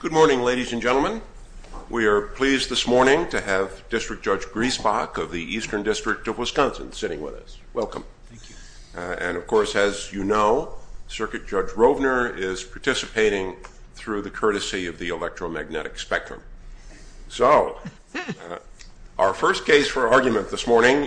Good morning, ladies and gentlemen. We are pleased this morning to have District Judge Griesbach of the Eastern District of Wisconsin sitting with us. Welcome. And of course, as you know, Circuit Judge Rovner is participating through the courtesy of the electromagnetic spectrum. So, our first case for argument this morning,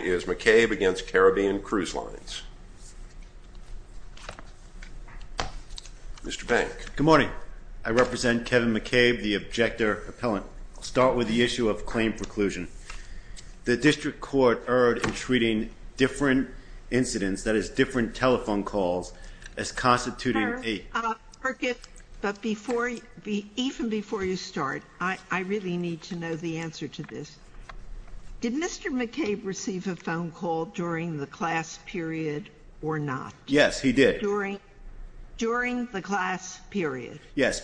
I represent Kevin McCabe, the objector appellant. I'll start with the issue of claim preclusion. The district court erred in treating different incidents, that is, different telephone calls, as constituting a- Sir, Circuit, but even before you start, I really need to know the answer to this. Did Mr. McCabe receive a phone call during the class period or not? Yes, he did. During the class period? Yes,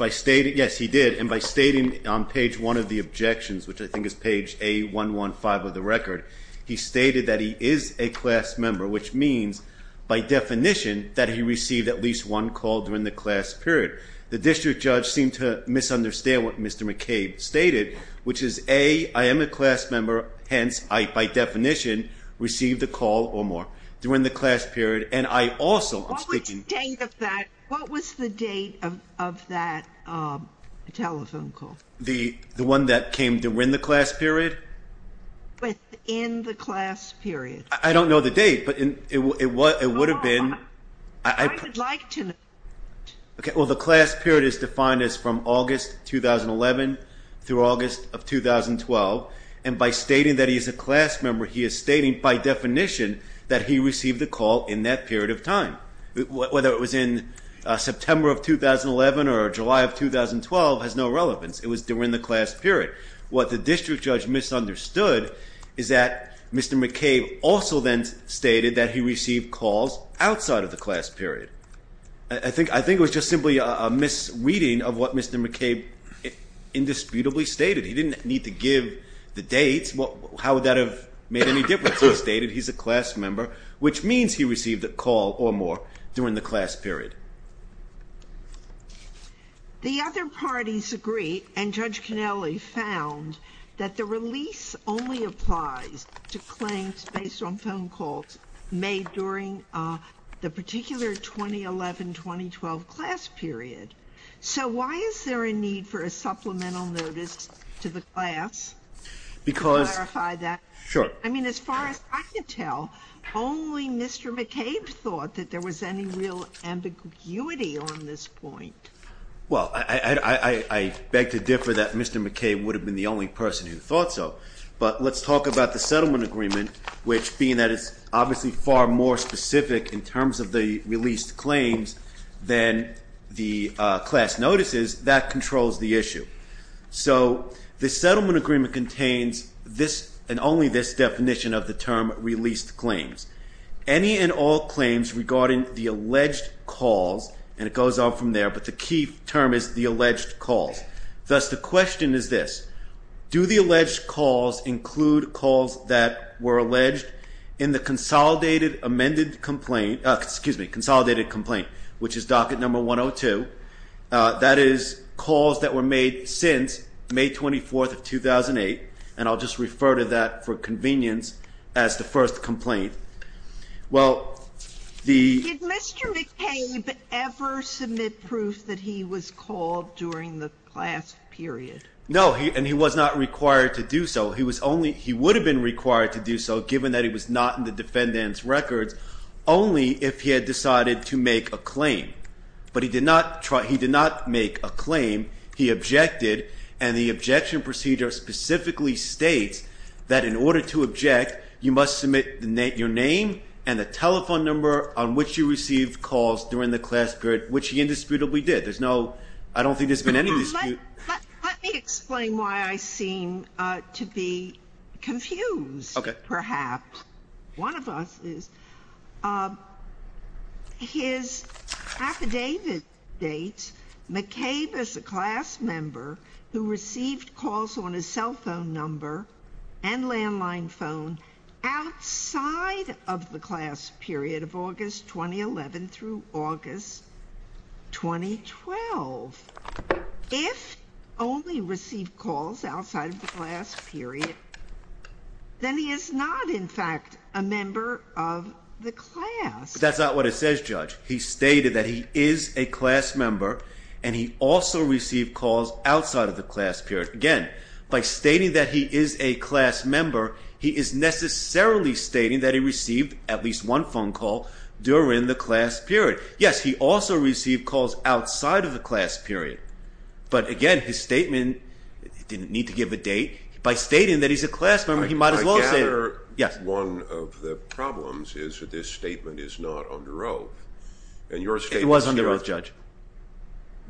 he did. And by stating on page one of the objections, which I think is page A115 of the record, he stated that he is a class member, which means by definition that he received at least one call during the class period. The district judge seemed to misunderstand what Mr. McCabe stated, which is A, I am a class member, hence I, by definition, received a call or more during the class period. And I also- What was the date of that telephone call? The one that came during the class period? Within the class period. I don't know the date, but it would have been- No, I would like to know. Okay, well, the class period is defined as from August 2011 through August of 2012. And by stating that he is a class member, he is stating by definition that he received a call in that period of time. Whether it was in September of 2011 or July of 2012 has no relevance. It was during the class period. What the district judge misunderstood is that Mr. McCabe also then stated that he received calls outside of the class period. I think it was just simply a misreading of what Mr. McCabe indisputably stated. He didn't need to give the dates. How would that have made any difference? He stated he's a class member, which means he received a call or more during the class period. The other parties agree, and Judge Canelli found, that the release only applies to claims based on phone calls made during the particular 2011-2012 class period. So why is there a need for a supplemental notice to the class? I mean, as far as I can tell, only Mr. McCabe thought that there was any real ambiguity on this point. Well, I beg to differ that Mr. McCabe would have been the only person who thought so. But let's talk about the settlement agreement, which being that it's obviously far more specific in terms of the released claims than the class notices, that controls the issue. So the settlement agreement contains this, and only this, definition of the term released claims. Any and all claims regarding the alleged calls, and it goes on from there, but the key term is the alleged calls. Thus the question is this. Do the alleged calls include calls that were alleged in the consolidated amended complaint, excuse me, consolidated complaint, which is docket number 102, that is calls that were made since May 24th of 2008, and I'll just refer to that for convenience as the first complaint. Did Mr. McCabe ever submit proof that he was called during the class period? No, and he was not required to do so. He was only, he would have been required to do so given that he was not in the defendant's records, only if he had decided to make a claim. But he did not make a claim. He objected, and the objection procedure specifically states that in order to object, you must submit your name and the telephone number on which you received calls during the class period, which he indisputably did. There's no, I don't think there's been any dispute. Let me explain why I seem to be confused, perhaps. One of us is. His affidavit that dates McCabe as a class member who received calls on his cell phone number and landline phone outside of the class period of August 2011 through August 2012. If only received calls outside of the class period, then he is not in fact a member of the class. That's not what it says, Judge. He stated that he is a class member, and he also received calls outside of the class period. Again, by stating that he is a class member, he is necessarily stating that he received at least one phone call during the class period. Yes, he also received calls outside of the class period. But again, his statement, he didn't need to give a date. By stating that he's a class member, he might as well have said that he's a class member. Another one of the problems is that this statement is not under oath. It was under oath, Judge.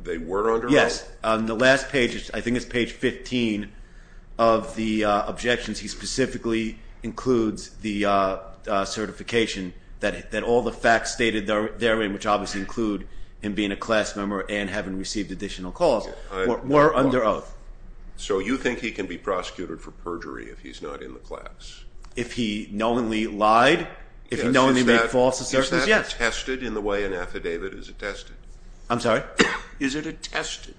They were under oath? Yes. On the last page, I think it's page 15 of the objections, he specifically includes the certification that all the facts stated therein, which obviously include him being a class member and having received additional calls, were under oath. So you think he can be prosecuted for perjury if he's not in the class? If he knowingly lied? If he knowingly made false assertions? Yes. Is that attested in the way an affidavit is attested? I'm sorry? Is it attested?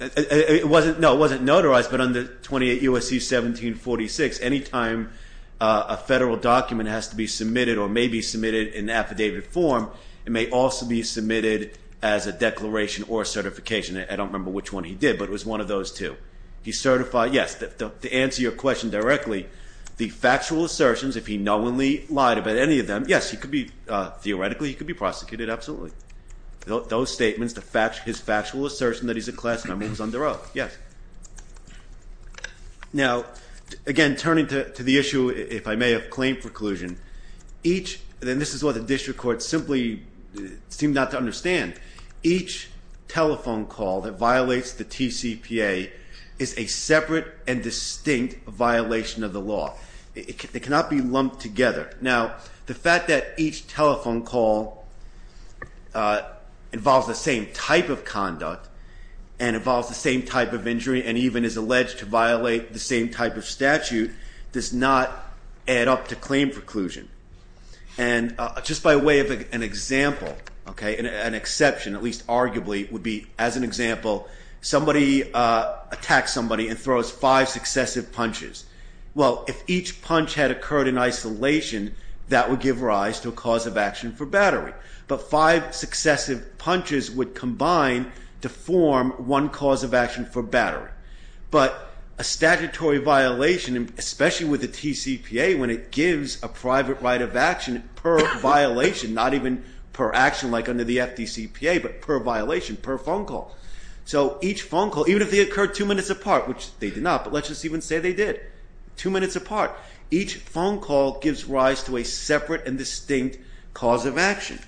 No, it wasn't notarized, but under 28 U.S.C. 1746, any time a federal document has to be submitted or may be submitted in affidavit form, it may also be submitted as a declaration or a certification. I don't remember which one he did, but it was one of those two. He certified, yes, to answer your question directly, the factual assertions, if he knowingly lied about any of them, yes, he could be, theoretically he could be prosecuted, absolutely. Those statements, his factual assertion that he's a class member was under oath, yes. Now again, turning to the issue, if I may, of claim preclusion, each, and this is what the district courts simply seem not to understand, each telephone call that violates the TCPA is a separate and distinct violation of the law. They cannot be lumped together. Now, the fact that each telephone call involves the same type of conduct and involves the same type of injury and even is alleged to violate the same type of statute does not add up to claim preclusion. And just by way of an example, okay, an exception, at least arguably, would be, as an example, somebody attacks somebody and throws five successive punches. Well, if each punch had occurred in isolation, that would give rise to a cause of action for battery. But five successive punches would combine to form one cause of action under the TCPA when it gives a private right of action per violation, not even per action like under the FDCPA, but per violation, per phone call. So each phone call, even if they occurred two minutes apart, which they did not, but let's just even say they did, two minutes apart, each phone call gives rise to a separate and distinct cause of action.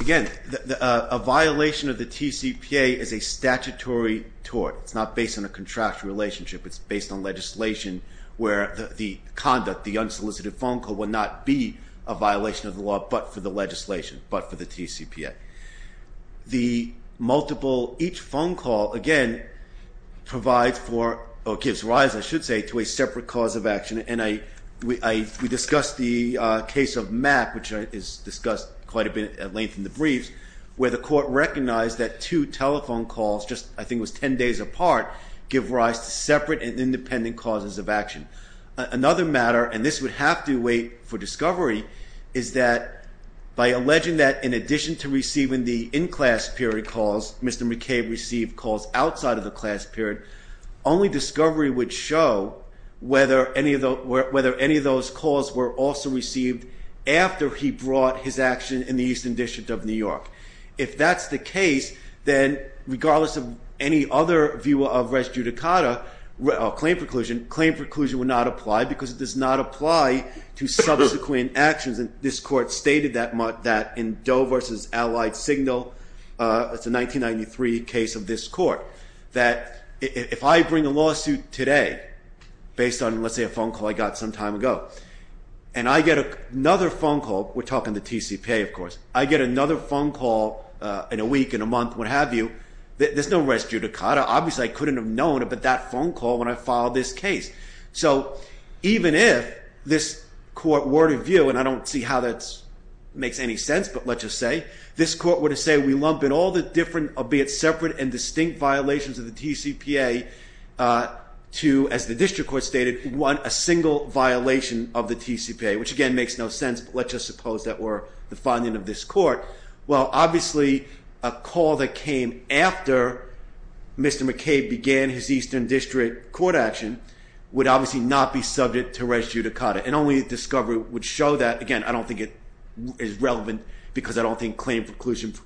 Again, a violation of the TCPA is a statutory tort. It's not based on a contractual relationship. It's based on legislation where the conduct, the unsolicited phone call, would not be a violation of the law but for the legislation, but for the TCPA. The multiple, each phone call, again, provides for, or gives rise, I should say, to a separate cause of action. And we discussed the case of MAP, which is discussed quite a bit at length in the briefs, where the court recognized that two telephone calls, just, I think it was ten days apart, give rise to separate and independent causes of action. Another matter, and this would have to wait for discovery, is that by alleging that in addition to receiving the in-class period calls, Mr. McCabe received calls outside of the class period, only discovery would show whether any of those calls were also received after he brought his action in the case of res judicata, or claim preclusion, claim preclusion would not apply because it does not apply to subsequent actions. And this court stated that in Doe versus Allied Signal, it's a 1993 case of this court, that if I bring a lawsuit today, based on, let's say, a phone call I got some time ago, and I get another phone call, we're talking the TCPA, of course, I get another phone call in a week, in a month, what have you, there's no res judicata, obviously I couldn't have known about that phone call when I filed this case. So even if this court were to view, and I don't see how that makes any sense, but let's just say, this court were to say we lump in all the different, albeit separate and distinct violations of the TCPA to, as the district court stated, one, a single violation of the TCPA, which again makes no sense, but let's just suppose that were the finding of this court, well, obviously, a call that came after Mr. McKay began his eastern district court action would obviously not be subject to res judicata, and only discovery would show that, again, I don't think it is relevant because I don't think claim preclusion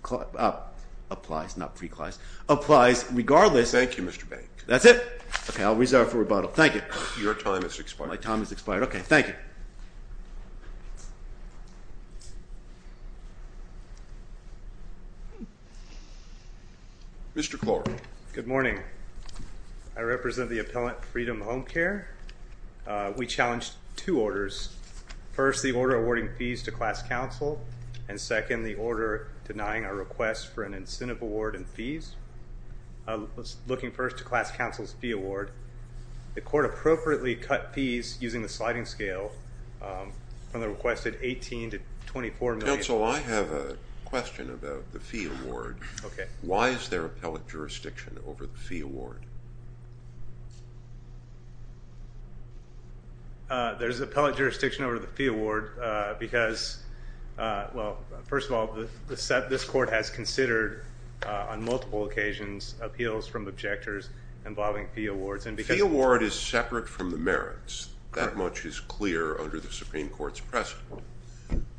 applies, not pre-clause, applies regardless. Thank you, Mr. Bank. That's it? Okay, I'll reserve for rebuttal. Thank you. Your time has expired. My time has expired. Okay, thank you. Mr. Clark. Good morning. I represent the appellant Freedom Home Care. We challenged two orders. First, the order awarding fees to class counsel, and second, the order denying our request for an incentive award in fees. Looking first to class counsel's fee award, the court appropriately cut fees using the sliding scale from the requested $18 to $24 Council, I have a question about the fee award. Why is there appellate jurisdiction over the fee award? There's appellate jurisdiction over the fee award because, well, first of all, this court has considered on multiple occasions appeals from objectors involving fee awards. Fee award is separate from the merits. That much is clear under the Supreme Court's precedent.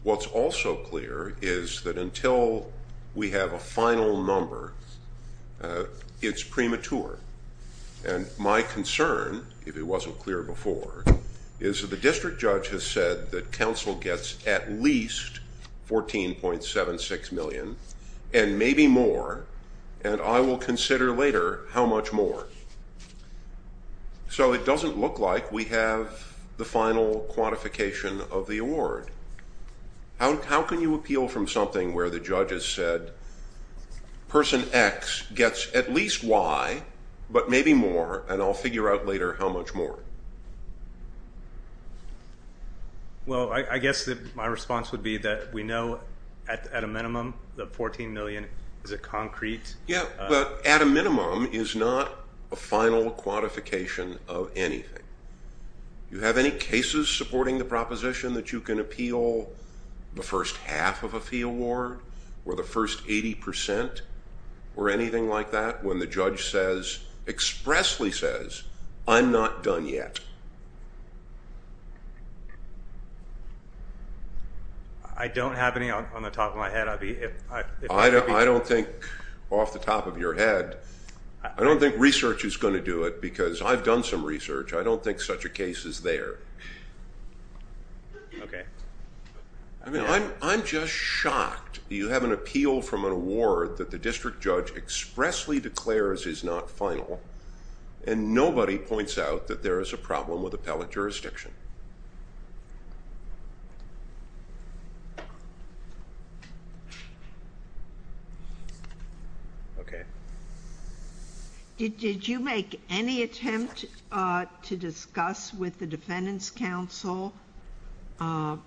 What's also clear is that until we have a final number, it's premature. And my concern, if it wasn't clear before, is that the district judge has said that counsel gets at least $14.76 million, and maybe more, and I will consider later how much more. So it doesn't look like we have the final quantification of the award. How can you appeal from something where the judge has said, Person X gets at least Y, but maybe more, and I'll figure out later how much more? Well, I guess that my response would be that we know at a minimum the $14 million is a concrete... Yeah, but at a minimum is not a final quantification of anything. Do you have any cases supporting the proposition that you can appeal the first half of a fee award, or the first 80 percent, or anything like that, when the judge expressly says, I'm not done yet? I don't have any on the top of my head. I don't think off the top of my head. I've done some research. I don't think such a case is there. I'm just shocked that you have an appeal from an award that the district judge expressly declares is not final, and nobody points out that there is a problem with appellate jurisdiction. Okay. Did you make any attempt to discuss with the Defendant's Council the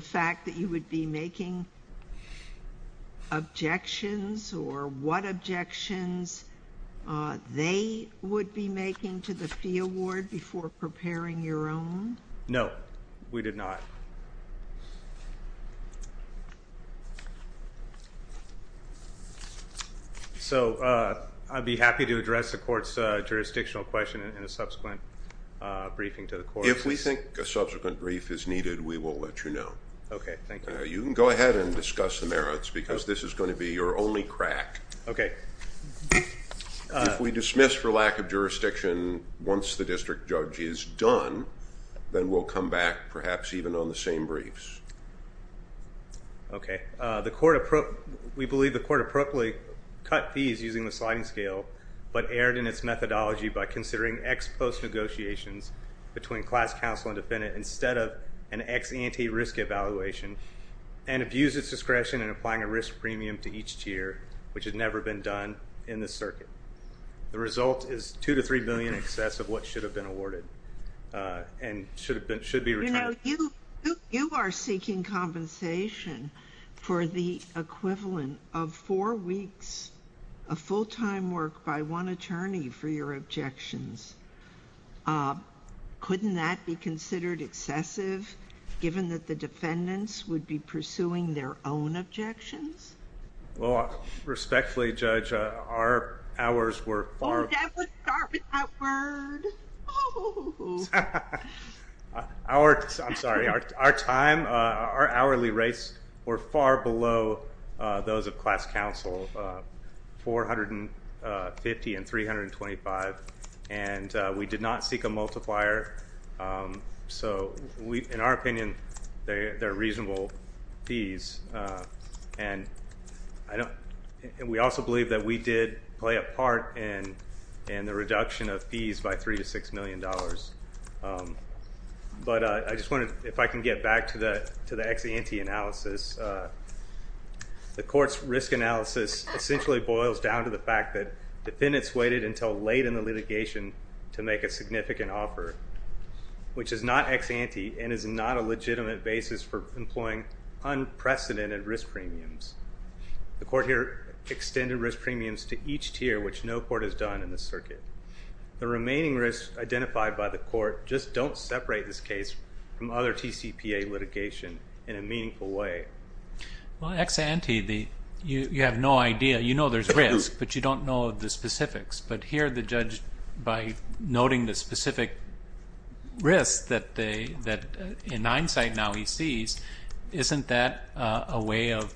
fact that you would be making objections, or what objections they would be making to the fee award before preparing your own? No, we did not. So, I'd be happy to address the Court's jurisdictional question in a subsequent briefing to the Court. If we think a subsequent brief is needed, we will let you know. Okay, thank you. You can go ahead and discuss the merits, because this is going to be your only crack. Okay. If we dismiss for lack of jurisdiction once the district judge is done, then we'll come back, perhaps even on the same briefs. Okay. We believe the Court appropriately cut fees using the sliding scale, but erred in its methodology by considering X post-negotiations between class counsel and defendant instead of an X anti-risk evaluation, and abused its discretion in applying a risk premium to each tier, which had never been done in this circuit. The result is $2 to $3 billion in excess of what should have been awarded, and should be returned. You know, you are seeking compensation for the equivalent of four weeks of full-time work by one attorney for your objections. Couldn't that be considered excessive, given that the defendants would be pursuing their own objections? Well, respectfully, Judge, our hours were far... Oh, that would start to... Our, I'm sorry, our time, our hourly rates were far below those of class counsel, 450 and 325, and we did not seek a multiplier. So, in our opinion, they're reasonable fees, and we also believe that we did play a part in the reduction of fees by $3 to $6 million. But I just wanted, if I can get back to the X anti-analysis, the Court's risk analysis essentially boils down to the fact that defendants waited until late in the litigation to make a significant offer, which is not X anti, and is not a legitimate basis for employing unprecedented risk premiums. The Court here extended risk premiums to each tier, which no court has done in this circuit. The remaining risks identified by the Court just don't separate this case from other TCPA litigation in a meaningful way. Well, X anti, you have no idea. You know there's risk, but you don't know the specifics. But here the judge, by noting the specific risk that in hindsight now he sees, isn't that a way of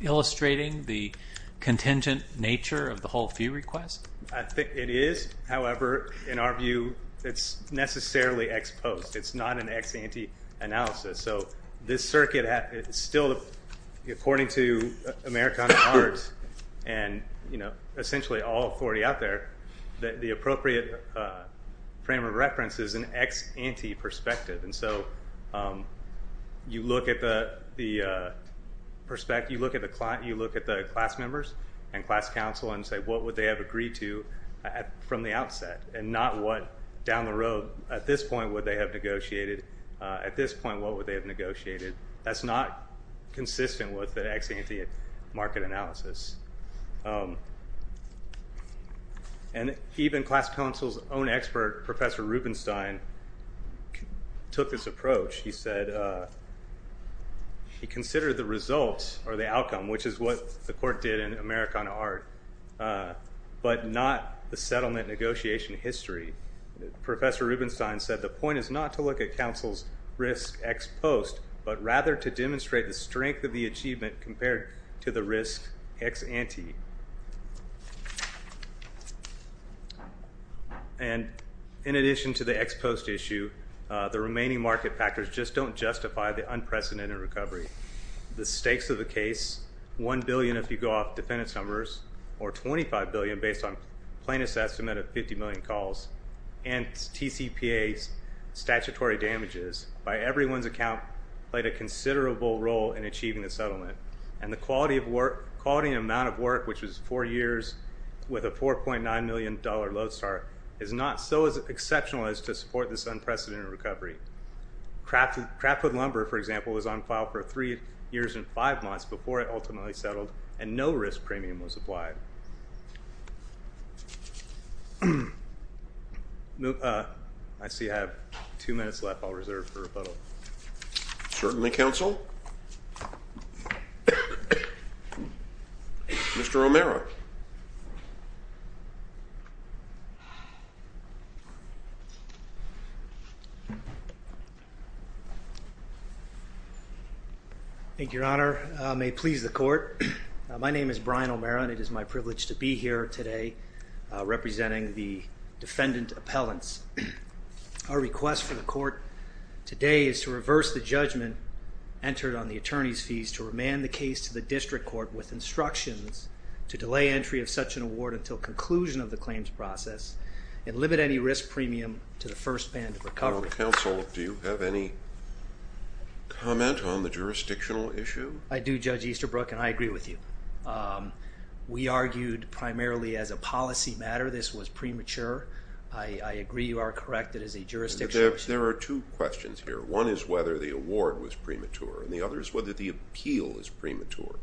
illustrating the contingent nature of the whole fee request? I think it is. However, in our view, it's necessarily X post. It's not an X anti analysis. So this circuit is still, according to Americana Arts, and essentially all authority out there, the appropriate frame of reference is an X anti perspective. And so you look at the perspective, you look at the class members and class counsel and say, what would they have agreed to from the outset? And not what, down the road, at this point, what would they have negotiated? At this point, what would they have negotiated? That's not consistent with the X anti market analysis. And even class counsel's own expert, Professor Rubenstein, took this approach. He said, he considered the result or the outcome, which is what the court did in Americana Art, but not the settlement negotiation history. Professor Rubenstein said, the point is not to look at counsel's risk X post, but rather to demonstrate the strength of the achievement compared to the risk X anti. And, in addition to the X post issue, the remaining market factors just don't justify the unprecedented recovery. The stakes of the case, 1 billion if you go off defendant's numbers, or 25 billion based on plaintiff's estimate of 50 million calls, and TCPA's statutory damages, by everyone's account, played a considerable role in achieving the settlement. And the quality and amount of work, which was four years with a $4.9 million load start, is not so exceptional as to support this unprecedented recovery. Craftwood lumber, for example, was on file for three years and five months before it ultimately settled, and no risk premium was applied. I see I have two minutes left. I'll reserve it for rebuttal. Certainly, counsel. Mr. O'Mara. Thank you, Your Honor. May it please the court. My name is Brian O'Mara, and it is my privilege to be here today representing the defendant appellants. Our request for the court is that today is to reverse the judgment entered on the attorney's fees to remand the case to the district court with instructions to delay entry of such an award until conclusion of the claims process and limit any risk premium to the first band of recovery. Counsel, do you have any comment on the jurisdictional issue? I do, Judge Easterbrook, and I agree with you. We argued primarily as a policy matter. This was premature. I agree you are correct. It is a jurisdictional issue. There are two questions here. One is whether the award was premature, and the other is whether the appeal is premature,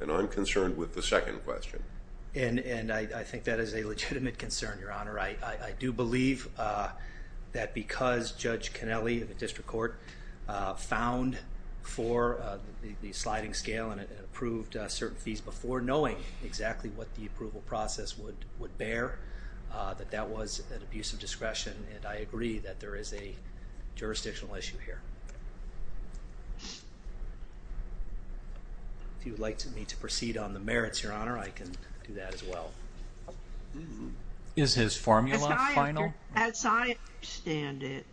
and I'm concerned with the second question. I think that is a legitimate concern, Your Honor. I do believe that because Judge Cannelli of the district court found for the sliding scale and approved certain fees before, knowing exactly what the approval process would bear, that that was an abuse of discretion, and I agree that there is a jurisdictional issue here. If you would like me to proceed on the merits, Your Honor, I can do that as well. Is his formula final? As I understand it,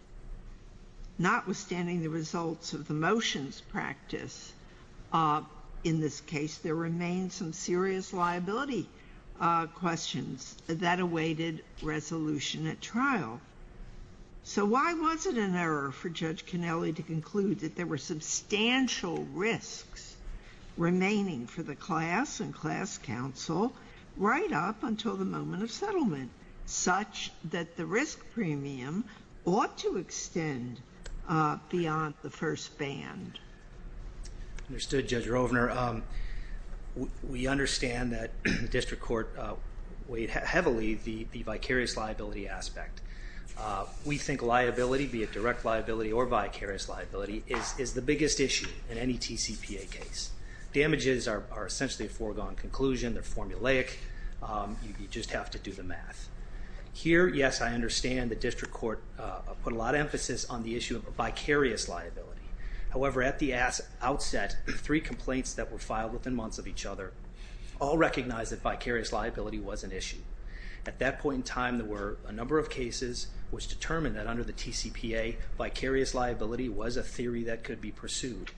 notwithstanding the results of the motions practice, in this case there remain some serious liability questions that awaited resolution at trial. So why was it an error for Judge Cannelli to conclude that there were substantial risks remaining for the class and class counsel right up until the moment of settlement, such that the risk premium ought to extend beyond the first band? Understood, Judge Rovner. We understand that the district court weighed heavily the vicarious liability aspect. We think liability, be it direct liability or vicarious liability, is the biggest issue in any TCPA case. Damages are essentially a foregone conclusion, they're formulaic, you just have to do the math. Here, yes, I understand the district court put a lot of emphasis on the issue of vicarious liability. However, at the outset, three complaints that were filed within months of each other all recognized that vicarious liability was an issue. At that point in time there were a number of cases which determined that under the TCPA vicarious liability was a theory that could be pursued.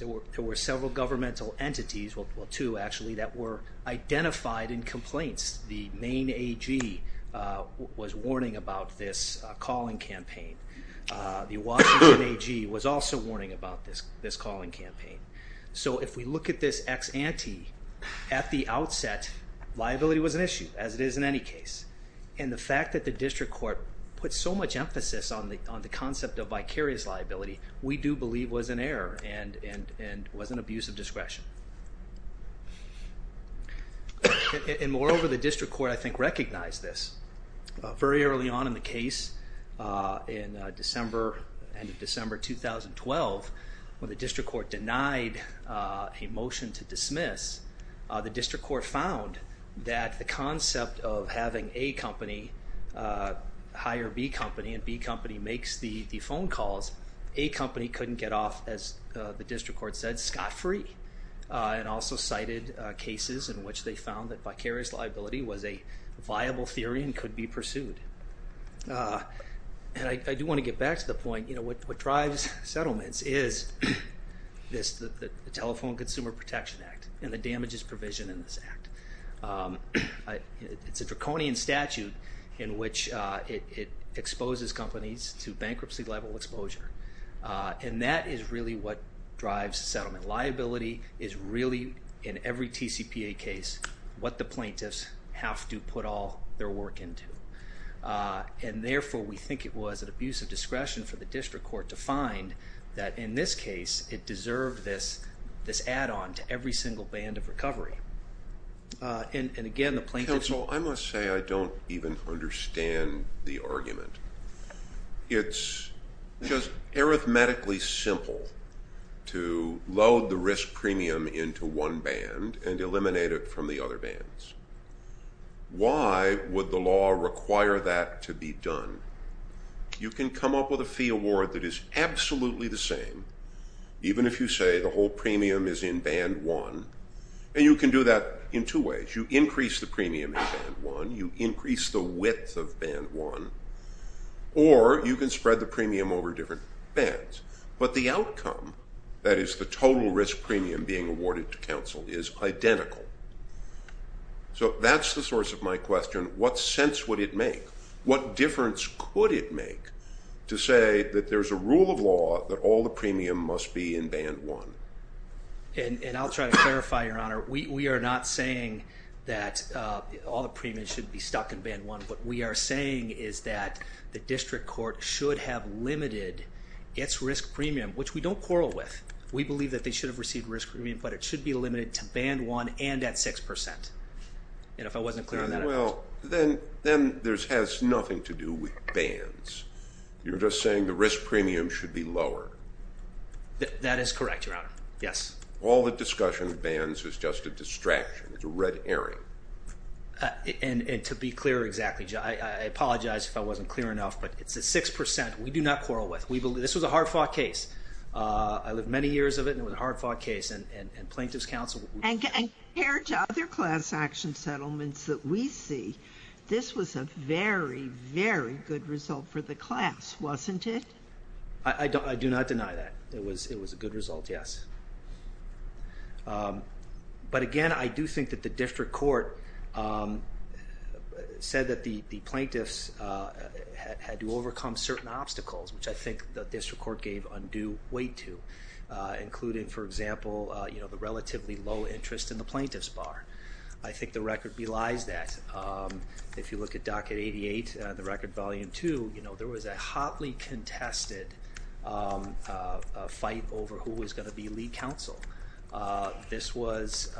There were several governmental entities, well two actually, that were identified in complaints. The Maine AG was warning about this calling campaign. The Washington AG was also warning about this issue, as it is in any case. And the fact that the district court put so much emphasis on the concept of vicarious liability, we do believe was an error and was an abuse of discretion. And moreover, the district court, I think, recognized this. Very early on in the case, in December, end of December 2012, when the district court denied a motion to accept of having A company hire B company and B company makes the phone calls, A company couldn't get off, as the district court said, scot-free. And also cited cases in which they found that vicarious liability was a viable theory and could be pursued. And I do want to get back to the point, you know, what drives settlements is this, the Telephone Consumer Protection Act and the damages provision in this act. It's a draconian statute in which it exposes companies to bankruptcy level exposure. And that is really what drives settlement. Liability is really, in every TCPA case, what the plaintiffs have to put all their work into. And therefore, we think it was an abuse of discretion for the district court to find that in this case, it deserved this add-on to every single band of recovery. And again, the plaintiffs... Counsel, I must say I don't even understand the argument. It's just arithmetically simple to load the risk premium into one band and eliminate it from the other bands. Why would the law require that to be done? You can come up with a fee award that is absolutely the same, even if you say the whole premium is in band one. And you can do that in two ways. You increase the premium in band one. You increase the width of band one. Or you can spread the premium over different bands. But the outcome, that is the total risk premium being awarded to counsel, is identical. So that's the source of my question. What sense would it make? What difference could it make to say that there's a rule of law that all the premium must be in band one? And I'll try to clarify, Your Honor. We are not saying that all the premium should be stuck in band one. What we are saying is that the district court should have limited its risk premium, which we don't quarrel with. We believe that they should have received risk premium, but it should be limited to band one and at 6%. And if I wasn't clear on that, I apologize. Then this has nothing to do with bands. You're just saying the risk premium should be lower. That is correct, Your Honor. Yes. All the discussion of bands is just a distraction. It's a red herring. And to be clear exactly, I apologize if I wasn't clear enough, but it's at 6%. We do not quarrel with. This was a hard-fought case. I lived many years of it, and it was a hard-fought case. And Plaintiff's counsel... And compared to other class action settlements that we see, this was a very, very good result for the class, wasn't it? I do not deny that. It was a good result, yes. But again, I do think that the district court said that the plaintiffs had to overcome certain obstacles, which I think the district court gave undue weight to, including, for example, the relatively low interest in the plaintiff's bar. I think the record belies that. If you look at Docket 88, the record volume 2, there was a hotly contested fight over who was going to be lead counsel. This was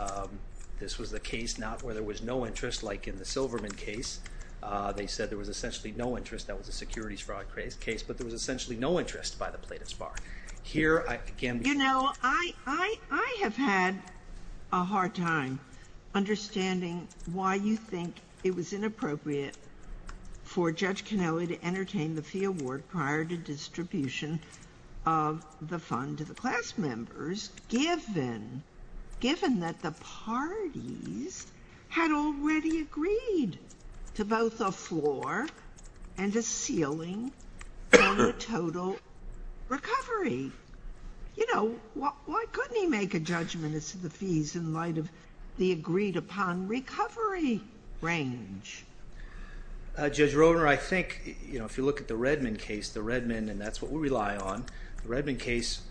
a case where there was no interest, like in the Silverman case. They said there was essentially no interest. That was a securities fraud case, but there was essentially no interest by the plaintiff's bar. You know, I have had a hard time understanding why you think it was inappropriate for Judge Roedner, I think, you know, if you look at the Redmond case, the Redmond, and that's what we rely on, the Redmond case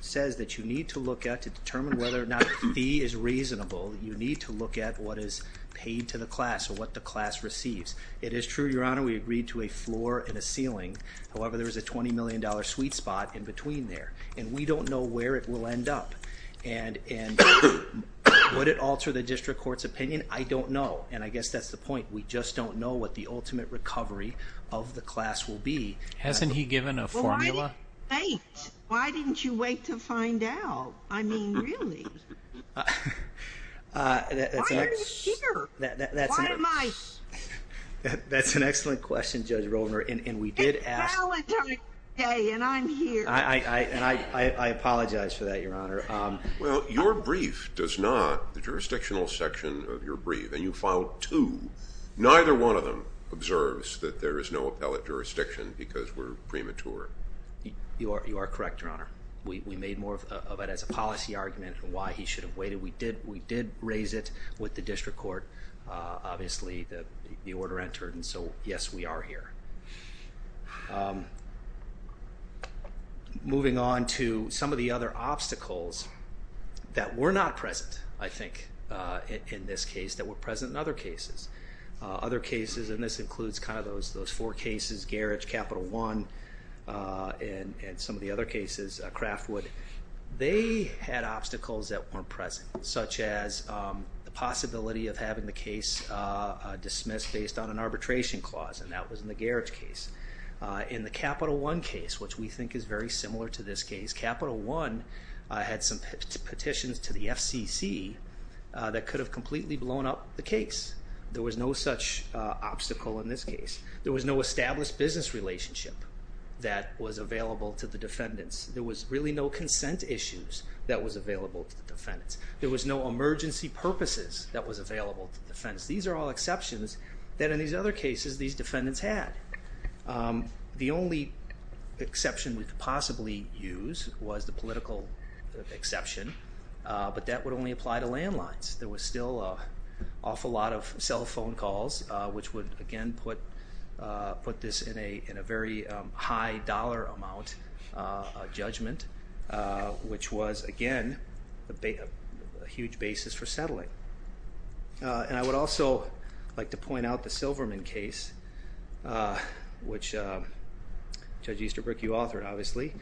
says that you need to look at to determine whether or not a fee is reasonable, you need to look at what is paid to the class or what the class receives. It is true, Your Honor, we agreed to a floor and a ceiling. However, there was a $20 million sweet spot in between there. And we don't know where it will end up. And would it alter the district court's opinion? I don't know. And I guess that's the point. We just don't know what the ultimate recovery of the class will be. Hasn't he given a formula? Wait, why didn't you wait to find out? I mean, really? Why are you here? Why am I here? That's an excellent question, Judge Roedner, and we did ask... It's appellate time today, and I'm here. And I apologize for that, Your Honor. Well, your brief does not, the jurisdictional section of your brief, and you filed two, neither one of them observes that there is no appellate jurisdiction because we're premature. You are correct, Your Honor. We made more of it as a policy argument and why he should have waited. We did raise it with the district court. Obviously, the order entered, and so yes, we are here. Moving on to some of the other obstacles that were not present, I think, in this case that were present in other cases. Other cases, and this includes kind of those four cases, Garage, Capital One, and some of the other cases, Craftwood, they had obstacles that weren't present, such as the possibility of having the case dismissed based on an arbitration clause, and that was in the Garage case. In the Capital One case, which we think is very that could have completely blown up the case. There was no such obstacle in this case. There was no established business relationship that was available to the defendants. There was really no consent issues that was available to the defendants. There was no emergency purposes that was available to the defendants. These are all exceptions that in these other cases these defendants had. The only exception we could possibly use was the political exception, but that would only apply to landlines. There was still an awful lot of cell phone calls, which would, again, put this in a very high dollar amount judgment, which was, again, a huge basis for settling. And I would also like to point out the Silverman case, which Judge Easterbrook, you authored, obviously.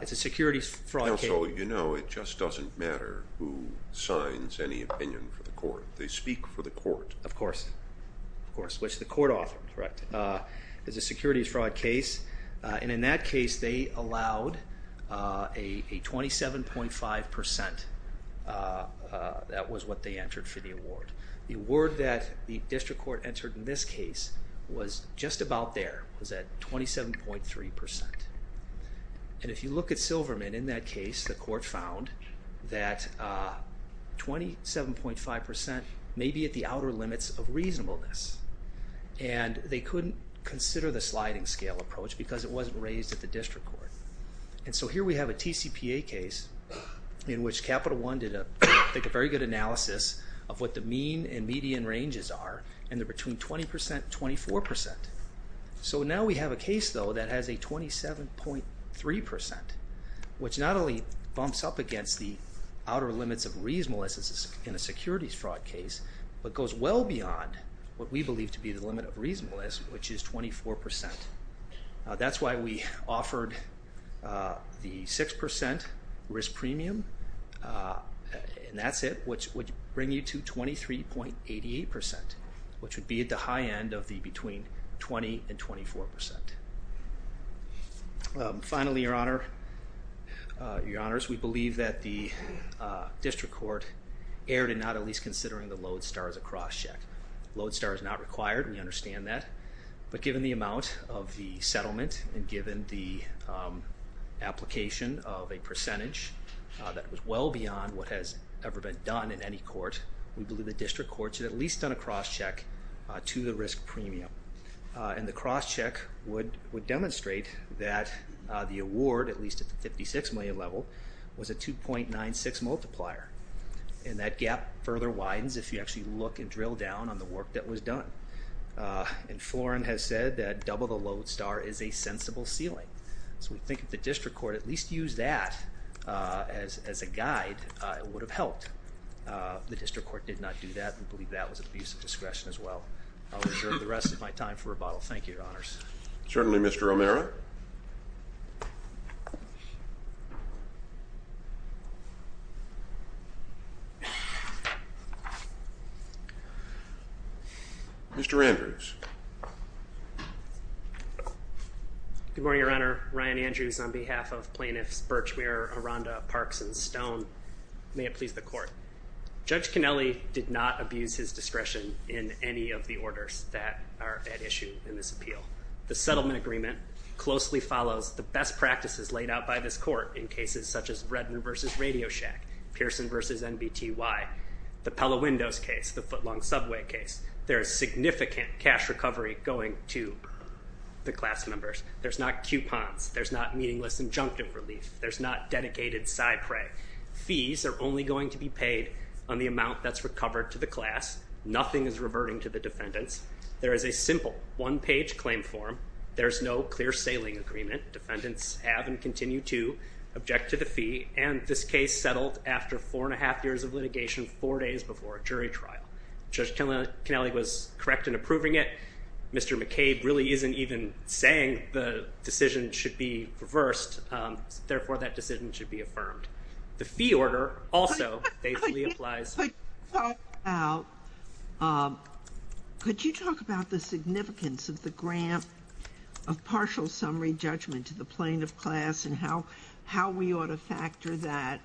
It's a securities fraud case. Also, you know, it just doesn't matter who signs any opinion for the court. They speak for the court. Of course. Of course, which the court authored, correct? It's a securities fraud case, and in that case they allowed a 27.5% that was what they entered for the award. The award that the district court entered in this case was just about there, was at 27.3%. And if you look at Silverman in that case, the court found that 27.5% may be at the outer limits of reasonableness, and they couldn't consider the sliding scale approach because it wasn't raised at the district court. And so here we have a TCPA case in which Capital One did a very good analysis of what the mean and median ranges are, and they're between 20% and 24%. So now we have a case, though, that has a 27.3%, which not only bumps up against the outer limits of reasonableness in a securities fraud case, but goes well beyond what we believe to be the limit of reasonableness, which is 24%. That's why we offered the 6% risk between 20% and 24%. Finally, Your Honor, we believe that the district court erred in not at least considering the Lodestar as a cross-check. Lodestar is not required, we understand that, but given the amount of the settlement and given the application of a percentage that was well beyond what has ever been done in any court, we believe the district court should have at least done a cross-check to the risk premium. And the cross-check would demonstrate that the award, at least at the 56 million level, was a 2.96 multiplier, and that gap further widens if you actually look and drill down on the work that was done. And Florin has said that double the Lodestar is a sensible ceiling. So we think if the district court at least used that as a guide, it would have helped. The district court did not do that. We believe that was an abuse of discretion as well. I'll reserve the rest of my time for rebuttal. Thank you, Your Honors. Certainly, Mr. Romero. Mr. Andrews. Good morning, Your Honor. Ryan Andrews on behalf of plaintiffs Birchmere, Aranda, Parks, and Stone. May it please the court. Judge Cannelli did not abuse his discretion in any of the orders that are at issue in this appeal. The settlement agreement closely follows the best practices laid out by this court in cases such as Redner v. Radio Shack, Pearson v. NBTY, the Pella Windows case, the Footlong Subway case. There is significant cash recovery going to the class members. There's not coupons. There's not meaningless injunctive relief. There's not side prey. Fees are only going to be paid on the amount that's recovered to the class. Nothing is reverting to the defendants. There is a simple one-page claim form. There's no clear sailing agreement. Defendants have and continue to object to the fee. And this case settled after four and a half years of litigation, four days before a jury trial. Judge Cannelli was correct in approving it. Mr. McCabe really isn't even saying the decision should be reversed. Therefore, that decision should be affirmed. The fee order also faithfully applies. Could you talk about the significance of the grant of partial summary judgment to the plaintiff class and how we ought to factor that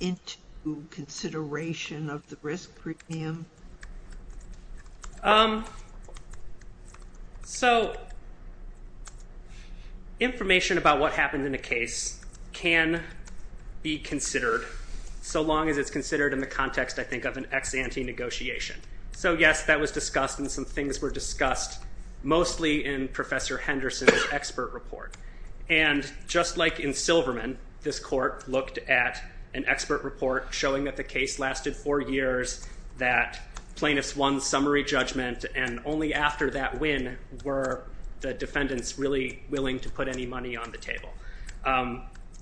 into consideration of the risk premium? So, information about what happened in the case can be considered so long as it's considered in the context, I think, of an ex-ante negotiation. So yes, that was discussed and some things were discussed mostly in Professor Henderson's expert report. And just like in Silverman, this court looked at an expert report showing that the case lasted four years, that plaintiffs won summary judgment, and only after that win were the defendants really willing to put any money on the table.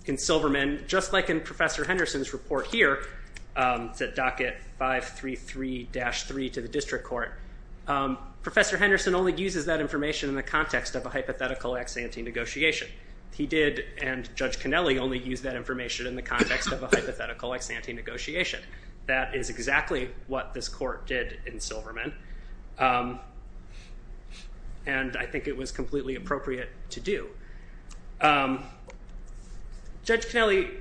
In Silverman, just like in Professor Henderson's report here, the docket 533-3 to the district court, Professor Henderson only uses that information in the context of a hypothetical ex-ante negotiation. He did, and Judge Kennelly only used that information in the context of a hypothetical ex-ante negotiation. That is exactly what this court did in Silverman, and I think it was completely appropriate to do. Judge Kennelly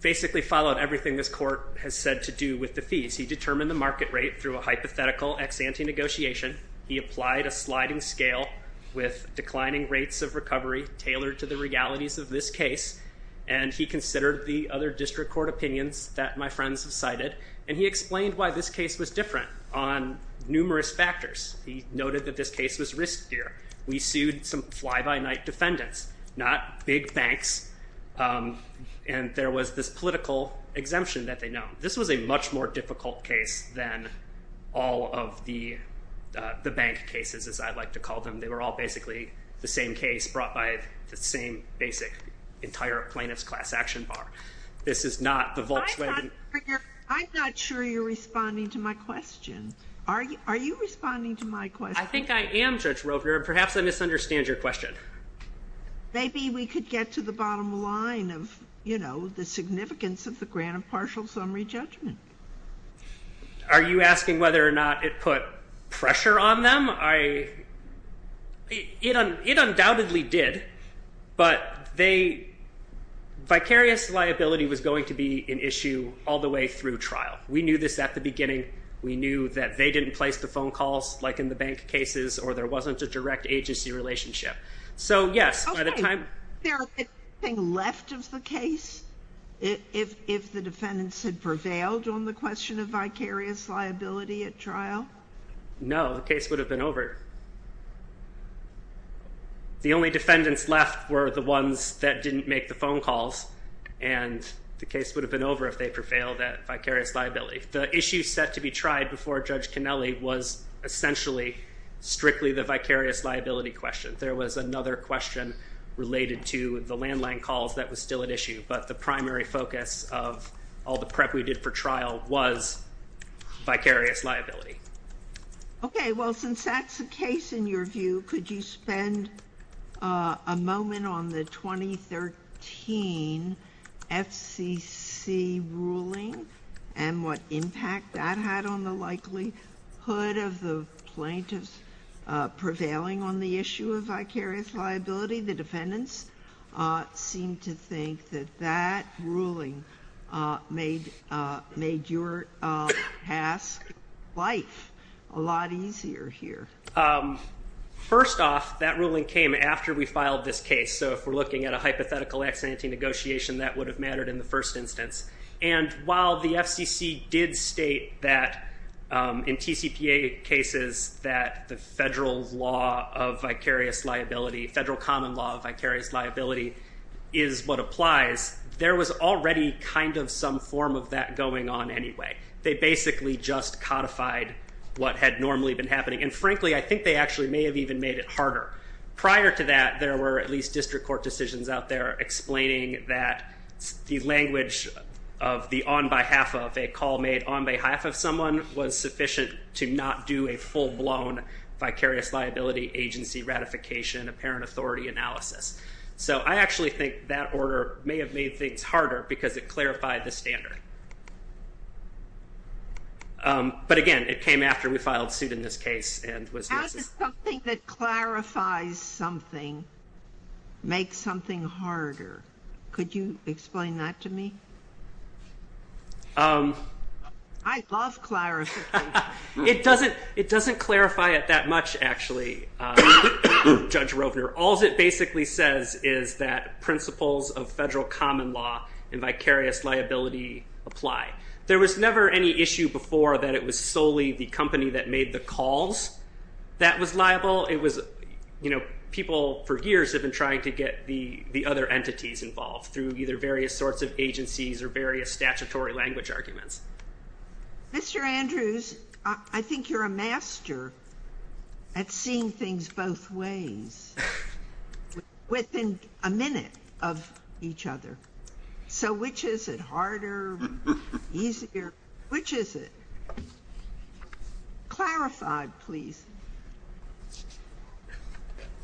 basically followed everything this court has said to do with the fees. He determined the market rate through a hypothetical ex-ante negotiation. He applied a sliding scale with declining rates of recovery tailored to the realities of this case, and he considered the other district court opinions that my friends have cited, and he explained why this case was different on numerous factors. He noted that this case was riskier. We sued some fly-by-night defendants, not big banks, and there was this political exemption that they known. This was a much more difficult case than all of the bank cases, as I like to call them. They were all basically the same case brought by the same basic entire plaintiff's class action bar. This is not the Volkswagen- I'm not sure you're responding to my question. Are you responding to my question? I think I am, Judge Roper, and perhaps I misunderstand your question. Maybe we could get to the bottom line of the significance of the grant of partial summary judgment. Are you asking whether or not it put pressure on them? It undoubtedly did, but vicarious liability was going to be an issue all the way through trial. We knew this at the beginning. We knew that they didn't place the phone calls like in the bank cases, or there wasn't a agency relationship. Is there anything left of the case if the defendants had prevailed on the question of vicarious liability at trial? No, the case would have been over. The only defendants left were the ones that didn't make the phone calls, and the case would have been over if they prevailed at vicarious liability. The issue set to be tried before Judge Roper's liability question. There was another question related to the landline calls that was still at issue, but the primary focus of all the prep we did for trial was vicarious liability. Okay, well since that's the case in your view, could you spend a moment on the 2013 FCC ruling and what impact that had on the likelihood of the plaintiffs prevailing on the issue of vicarious liability? The defendants seemed to think that that ruling made your past life a lot easier here. First off, that ruling came after we filed this case, so if we're looking at a hypothetical ex-ante negotiation, that would have mattered in the first instance. And while the FCC did state that in TCPA cases that the federal law of vicarious liability, federal common law of vicarious liability, is what applies, there was already kind of some form of that going on anyway. They basically just codified what had normally been happening, and frankly I think they actually may have even made it harder. Prior to that, there were at least district court decisions out there explaining that the language of the on behalf of a call made on behalf of someone was sufficient to not do a full-blown vicarious liability agency ratification apparent authority analysis. So I actually think that order may have made things harder because it clarified the standard. But again, it came after we filed suit in this case and was necessary. How does something that clarifies something make something harder? Could you explain that to me? I love clarification. It doesn't clarify it that much, actually, Judge Rovner. All it basically says is that apply. There was never any issue before that it was solely the company that made the calls that was liable. It was, you know, people for years have been trying to get the other entities involved through either various sorts of agencies or various statutory language arguments. Mr. Andrews, I think you're a master at seeing things both ways within a minute of each other. So which is it harder, easier? Which is it? Clarify, please.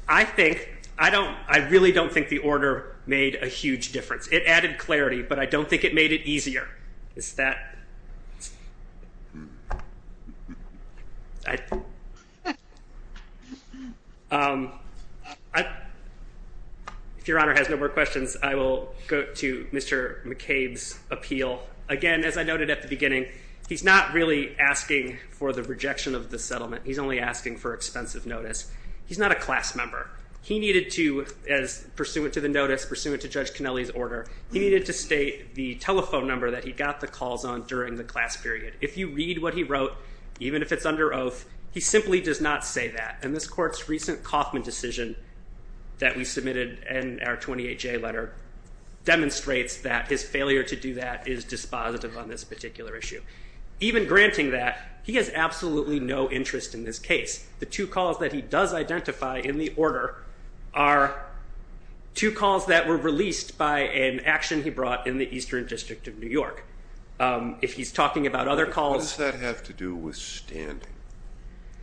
I think, I don't, I really don't think the order made a huge difference. It added clarity, but I don't think it made it easier. Is that? I, if Your Honor has no more questions, I will go to Mr. McCabe's appeal. Again, as I noted at the beginning, he's not really asking for the rejection of the settlement. He's only asking for expensive notice. He's not a class member. He needed to, as pursuant to the notice, pursuant to Judge McCabe's order, to be able to make the calls on during the class period. If you read what he wrote, even if it's under oath, he simply does not say that. And this court's recent Kaufman decision that we submitted in our 28-J letter demonstrates that his failure to do that is dispositive on this particular issue. Even granting that, he has absolutely no interest in this case. The two calls that he does identify in the order are two calls that were released by an action he brought in the Eastern District of New York. If he's talking about other calls... What does that have to do with standing?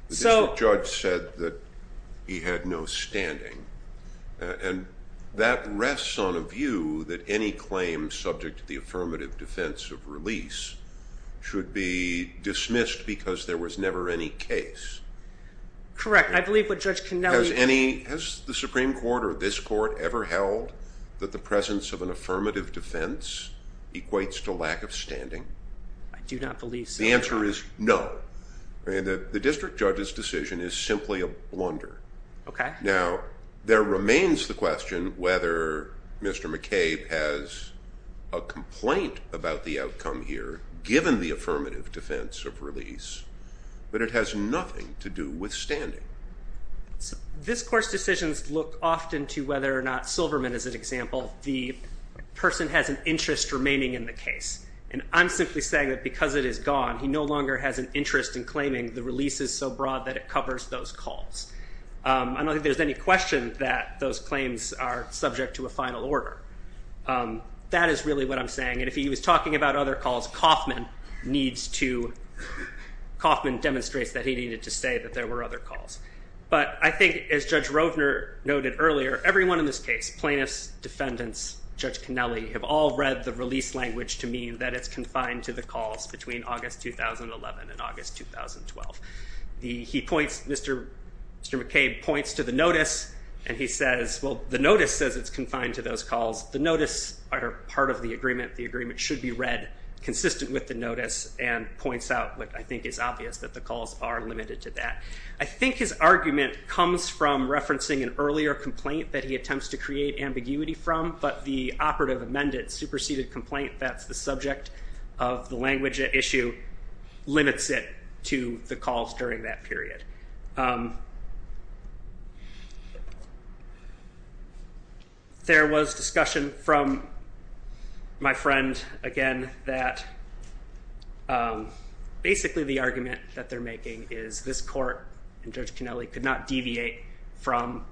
The district judge said that he had no standing, and that rests on a view that any claim subject to the affirmative defense of release should be dismissed because there was never any case. Correct. I believe what Judge Connelly... Has any, has the Supreme Court or this court ever held that the presence of an affirmative defense equates to lack of standing? I do not believe so. The answer is no. The district judge's decision is simply a blunder. Okay. Now, there remains the question whether Mr. McCabe has a complaint about the outcome here, given the affirmative defense of release, but it has nothing to do with standing. This court's decisions look often to whether or not Silverman is an example. The person has an interest remaining in the case, and I'm simply saying that because it is gone, he no longer has an interest in claiming the release is so broad that it covers those calls. I don't think there's any question that those claims are subject to a final order. That is really what I'm saying, and if he was talking about other calls, Kaufman needs to... Kaufman demonstrates that he needed to say that there were other calls, but I think as Judge Roedner noted earlier, everyone in this case, plaintiffs, defendants, Judge Connelly, have all read the release language to mean that it's confined to the calls between August 2011 and August 2012. He points, Mr. McCabe points to the notice, and he says, well, the notice says it's confined to those calls. The notice are part of the agreement. The agreement should be read consistent with the notice and points out what I think is obvious, that the calls are limited to that. I think his argument comes from referencing an earlier complaint that he attempts to create ambiguity from, but the operative amended superseded complaint that's the subject of the language at issue limits it to the calls during that period. There was discussion from my friend, again, that basically the argument that they're making is this court and Judge Connelly could not deviate from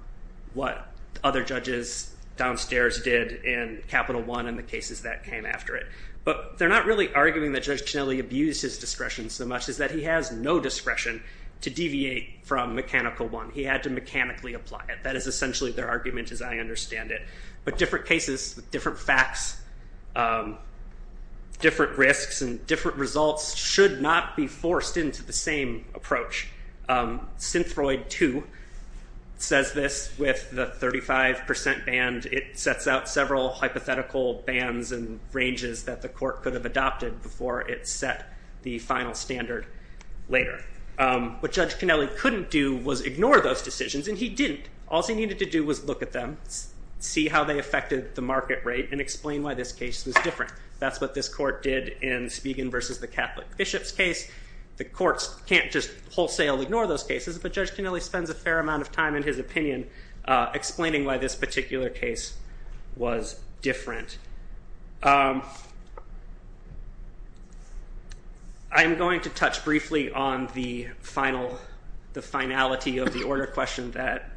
what other judges downstairs did in Capital One and the cases that came after it, but they're not really arguing that Judge Connelly abused his discretion so much, is that he has no discretion to deviate from Mechanical One. He had to mechanically apply it. That is essentially their argument as I understand it, but different cases, different facts, different risks, and different results should not be forced into the same approach. Synthroid 2 says this with the 35 percent band. It sets out several hypothetical bands and ranges that the court could have adopted before it set the final standard later. What Judge Connelly couldn't do was ignore those decisions, and he didn't. All he needed to do was look at them, see how they affected the market rate, and explain why this case was different. That's what this court did in Spigen versus the Catholic Bishops case. The courts can't just wholesale ignore those cases, but Judge Connelly spends a fair amount of time in his opinion explaining why this particular case was different. I'm going to touch briefly on the finality of the order question that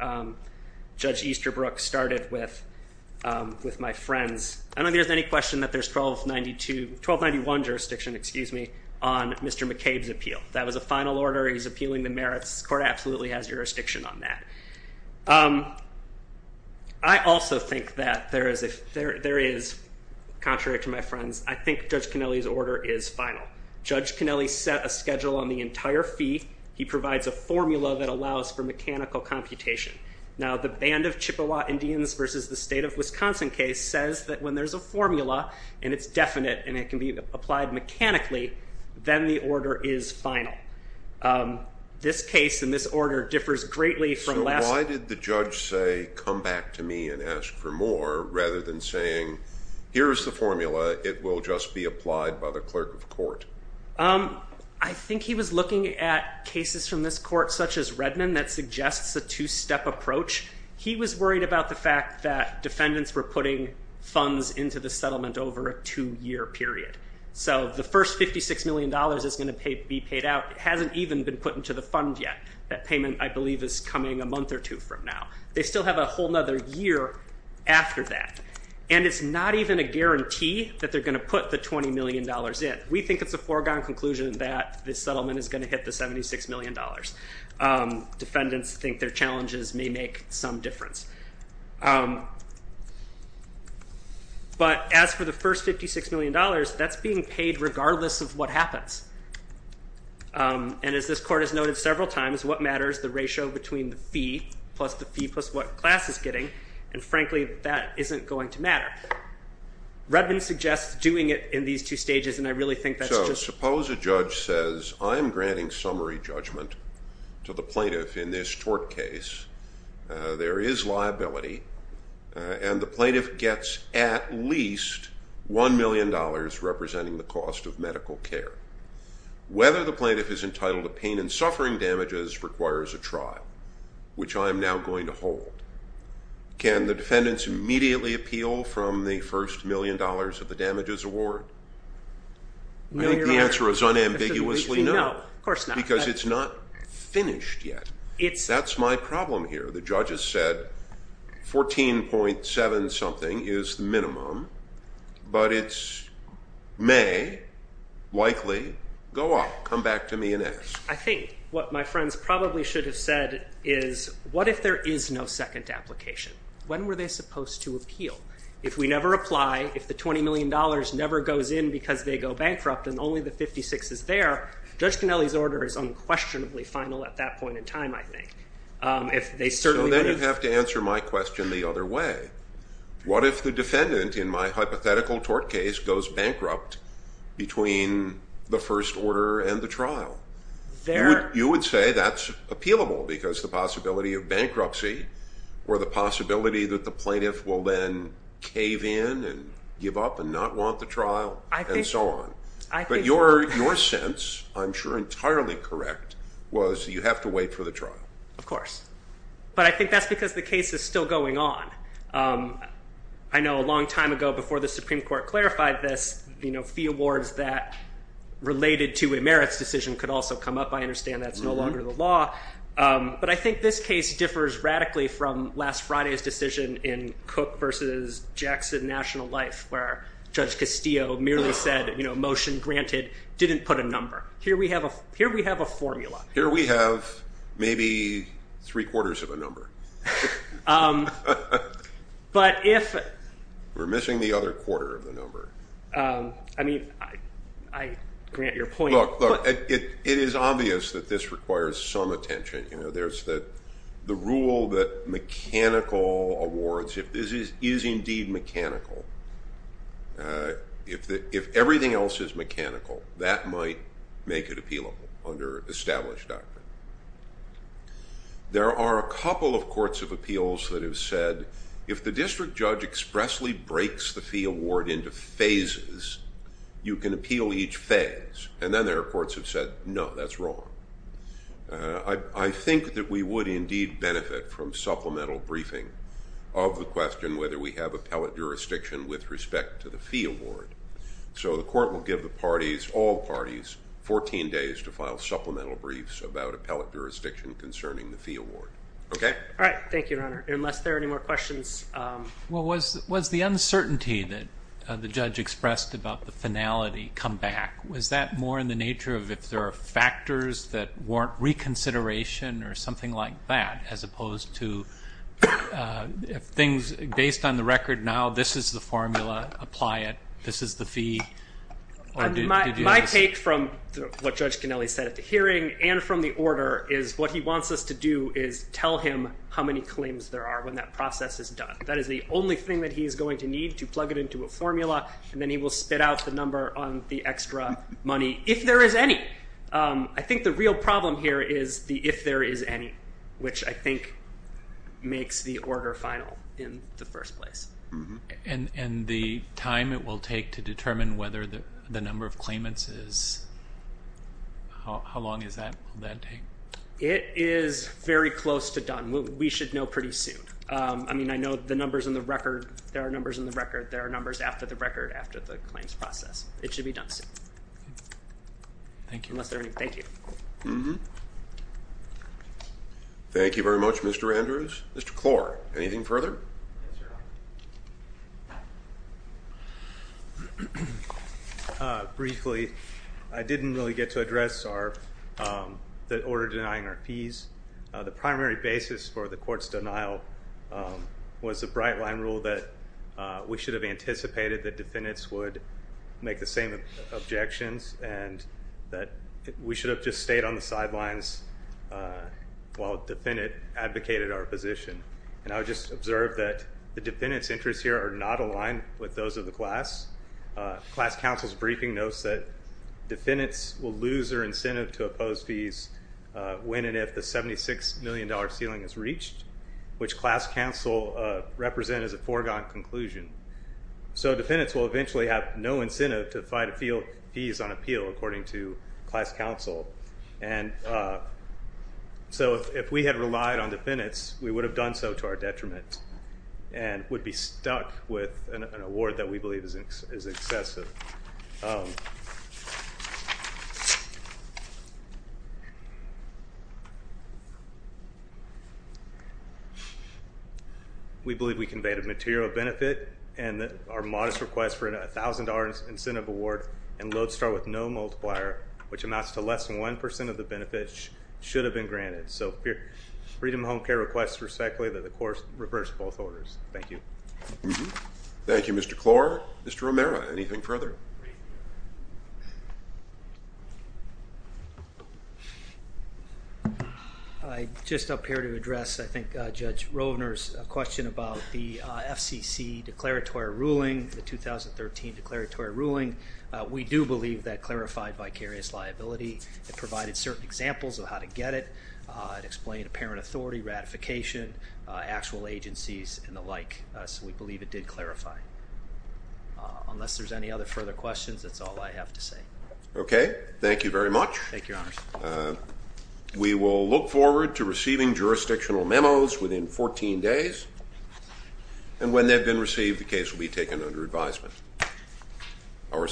Judge Easterbrook started with my friends. I don't think there's any question that there's 1292, 1291 jurisdiction, excuse me, on Mr. McCabe's appeal. That was a final order. He's appealing the merits. The court absolutely has jurisdiction on that. I also think that there is, contrary to my friends, I think Judge Connelly's order is final. Judge Connelly set a schedule on the entire fee. He provides a formula that allows for mechanical computation. Now the band of Chippewa Indians versus the state of Wisconsin case says that when there's a formula, and it's this case and this order differs greatly from the last. So why did the judge say, come back to me and ask for more, rather than saying, here's the formula. It will just be applied by the clerk of court. I think he was looking at cases from this court such as Redmond that suggests a two-step approach. He was worried about the fact that defendants were putting funds into the settlement over a two-year period. So the first $56 million is going to be paid out. It hasn't even been put into the fund yet. That payment, I believe, is coming a month or two from now. They still have a whole other year after that. And it's not even a guarantee that they're going to put the $20 million in. We think it's a foregone conclusion that this settlement is going to hit the $76 million. Defendants think their challenges may make some difference. But as for the first $56 million, that's being paid regardless of what happens. And as this court has noted several times, what matters is the ratio between the fee plus the fee plus what class it's getting. And frankly, that isn't going to matter. Redmond suggests doing it in these two stages. And I really think that's just- Suppose a judge says, I'm granting summary judgment to the plaintiff in this tort case. There is liability. And the plaintiff gets at least $1 million representing the cost of medical care. Whether the plaintiff is entitled to pain and suffering damages requires a trial, which I'm now going to hold. Can the defendants immediately appeal from the first $1 million of the damages award? I think the answer is unambiguously no. Because it's not finished yet. That's my problem here. The judge has said 14.7 something is the minimum, but it's may, likely, go up. Come back to me and ask. I think what my friends probably should have said is, what if there is no second application? When were they supposed to appeal? If we never apply, if the $20 million never goes in because they go bankrupt and only the $56 is there, Judge Cannelli's order is unquestionably final at that point in time, I think. If they certainly- So then you have to answer my question the other way. What if the defendant in my hypothetical tort case goes bankrupt between the first order and the trial? You would say that's appealable because the possibility of bankruptcy or the possibility that the plaintiff will then cave in and give up and not want the trial and so on. But your sense, I'm sure entirely correct, was you have to wait for the trial. Of course. But I think that's the case is still going on. I know a long time ago before the Supreme Court clarified this, fee awards that related to a merits decision could also come up. I understand that's no longer the law. But I think this case differs radically from last Friday's decision in Cook versus Jackson National Life where Judge Castillo merely said, motion granted, didn't put a number. Here we have a formula. Here we have maybe three quarters of a number. We're missing the other quarter of the number. I mean, I grant your point. Look, it is obvious that this requires some attention. There's the rule that mechanical awards, if this is indeed mechanical, if everything else is mechanical, that might make it appealable under established doctrine. There are a couple of courts of appeals that have said, if the district judge expressly breaks the fee award into phases, you can appeal each phase. And then there are courts that have said, no, that's wrong. I think that we would indeed benefit from supplemental briefing of the question whether we have appellate jurisdiction with respect to the fee award. So the court will give the parties, all parties, 14 days to file supplemental briefs about appellate jurisdiction concerning the fee award. Okay? All right. Thank you, Your Honor. Unless there are any more questions. Well, was the uncertainty that the judge expressed about the finality come back? Was that more in the nature of if there are factors that warrant reconsideration or something like that, as opposed to if things based on the record now, this is the formula, apply it, this is the fee? My take from what Judge Canelli said at the hearing and from the order is what he wants us to do is tell him how many claims there are when that process is done. That is the only thing that he is going to need to plug it into a formula, and then he will spit out the extra money if there is any. I think the real problem here is the if there is any, which I think makes the order final in the first place. And the time it will take to determine whether the number of claimants is, how long is that, will that take? It is very close to done. We should know pretty soon. I mean, I know the numbers in the record, there are numbers in the record, there are numbers after the record, after the claims process. It should be done soon. Thank you. Thank you. Thank you very much, Mr. Andrews. Mr. Clore, anything further? Briefly, I did not really get to address the order denying our fees. The primary basis for defendants would make the same objections and that we should have just stayed on the sidelines while a defendant advocated our position. And I would just observe that the defendants' interests here are not aligned with those of the class. Class counsel's briefing notes that defendants will lose their incentive to oppose fees when and if the $76 million ceiling is reached, which class counsel represent as a foregone conclusion. So defendants will eventually have no incentive to fight fees on appeal, according to class counsel. And so if we had relied on defendants, we would have done so to our detriment and would be stuck with an award that we believe is excessive. We believe we conveyed a material benefit and that our modest request for a $1,000 incentive award and LODESTAR with no multiplier, which amounts to less than 1% of the benefits, should have been granted. So freedom of home care requests respectfully that the Mr. Romero. Anything further? I just appear to address, I think, Judge Rovner's question about the FCC declaratory ruling, the 2013 declaratory ruling. We do believe that clarified vicarious liability. It provided certain examples of how to get it. It explained apparent authority, ratification, actual agencies, and the like. So we believe it did clarify. Unless there's any other further questions, that's all I have to say. Okay. Thank you very much. We will look forward to receiving jurisdictional memos within 14 days. And when they've been received, the case will be taken under advisement.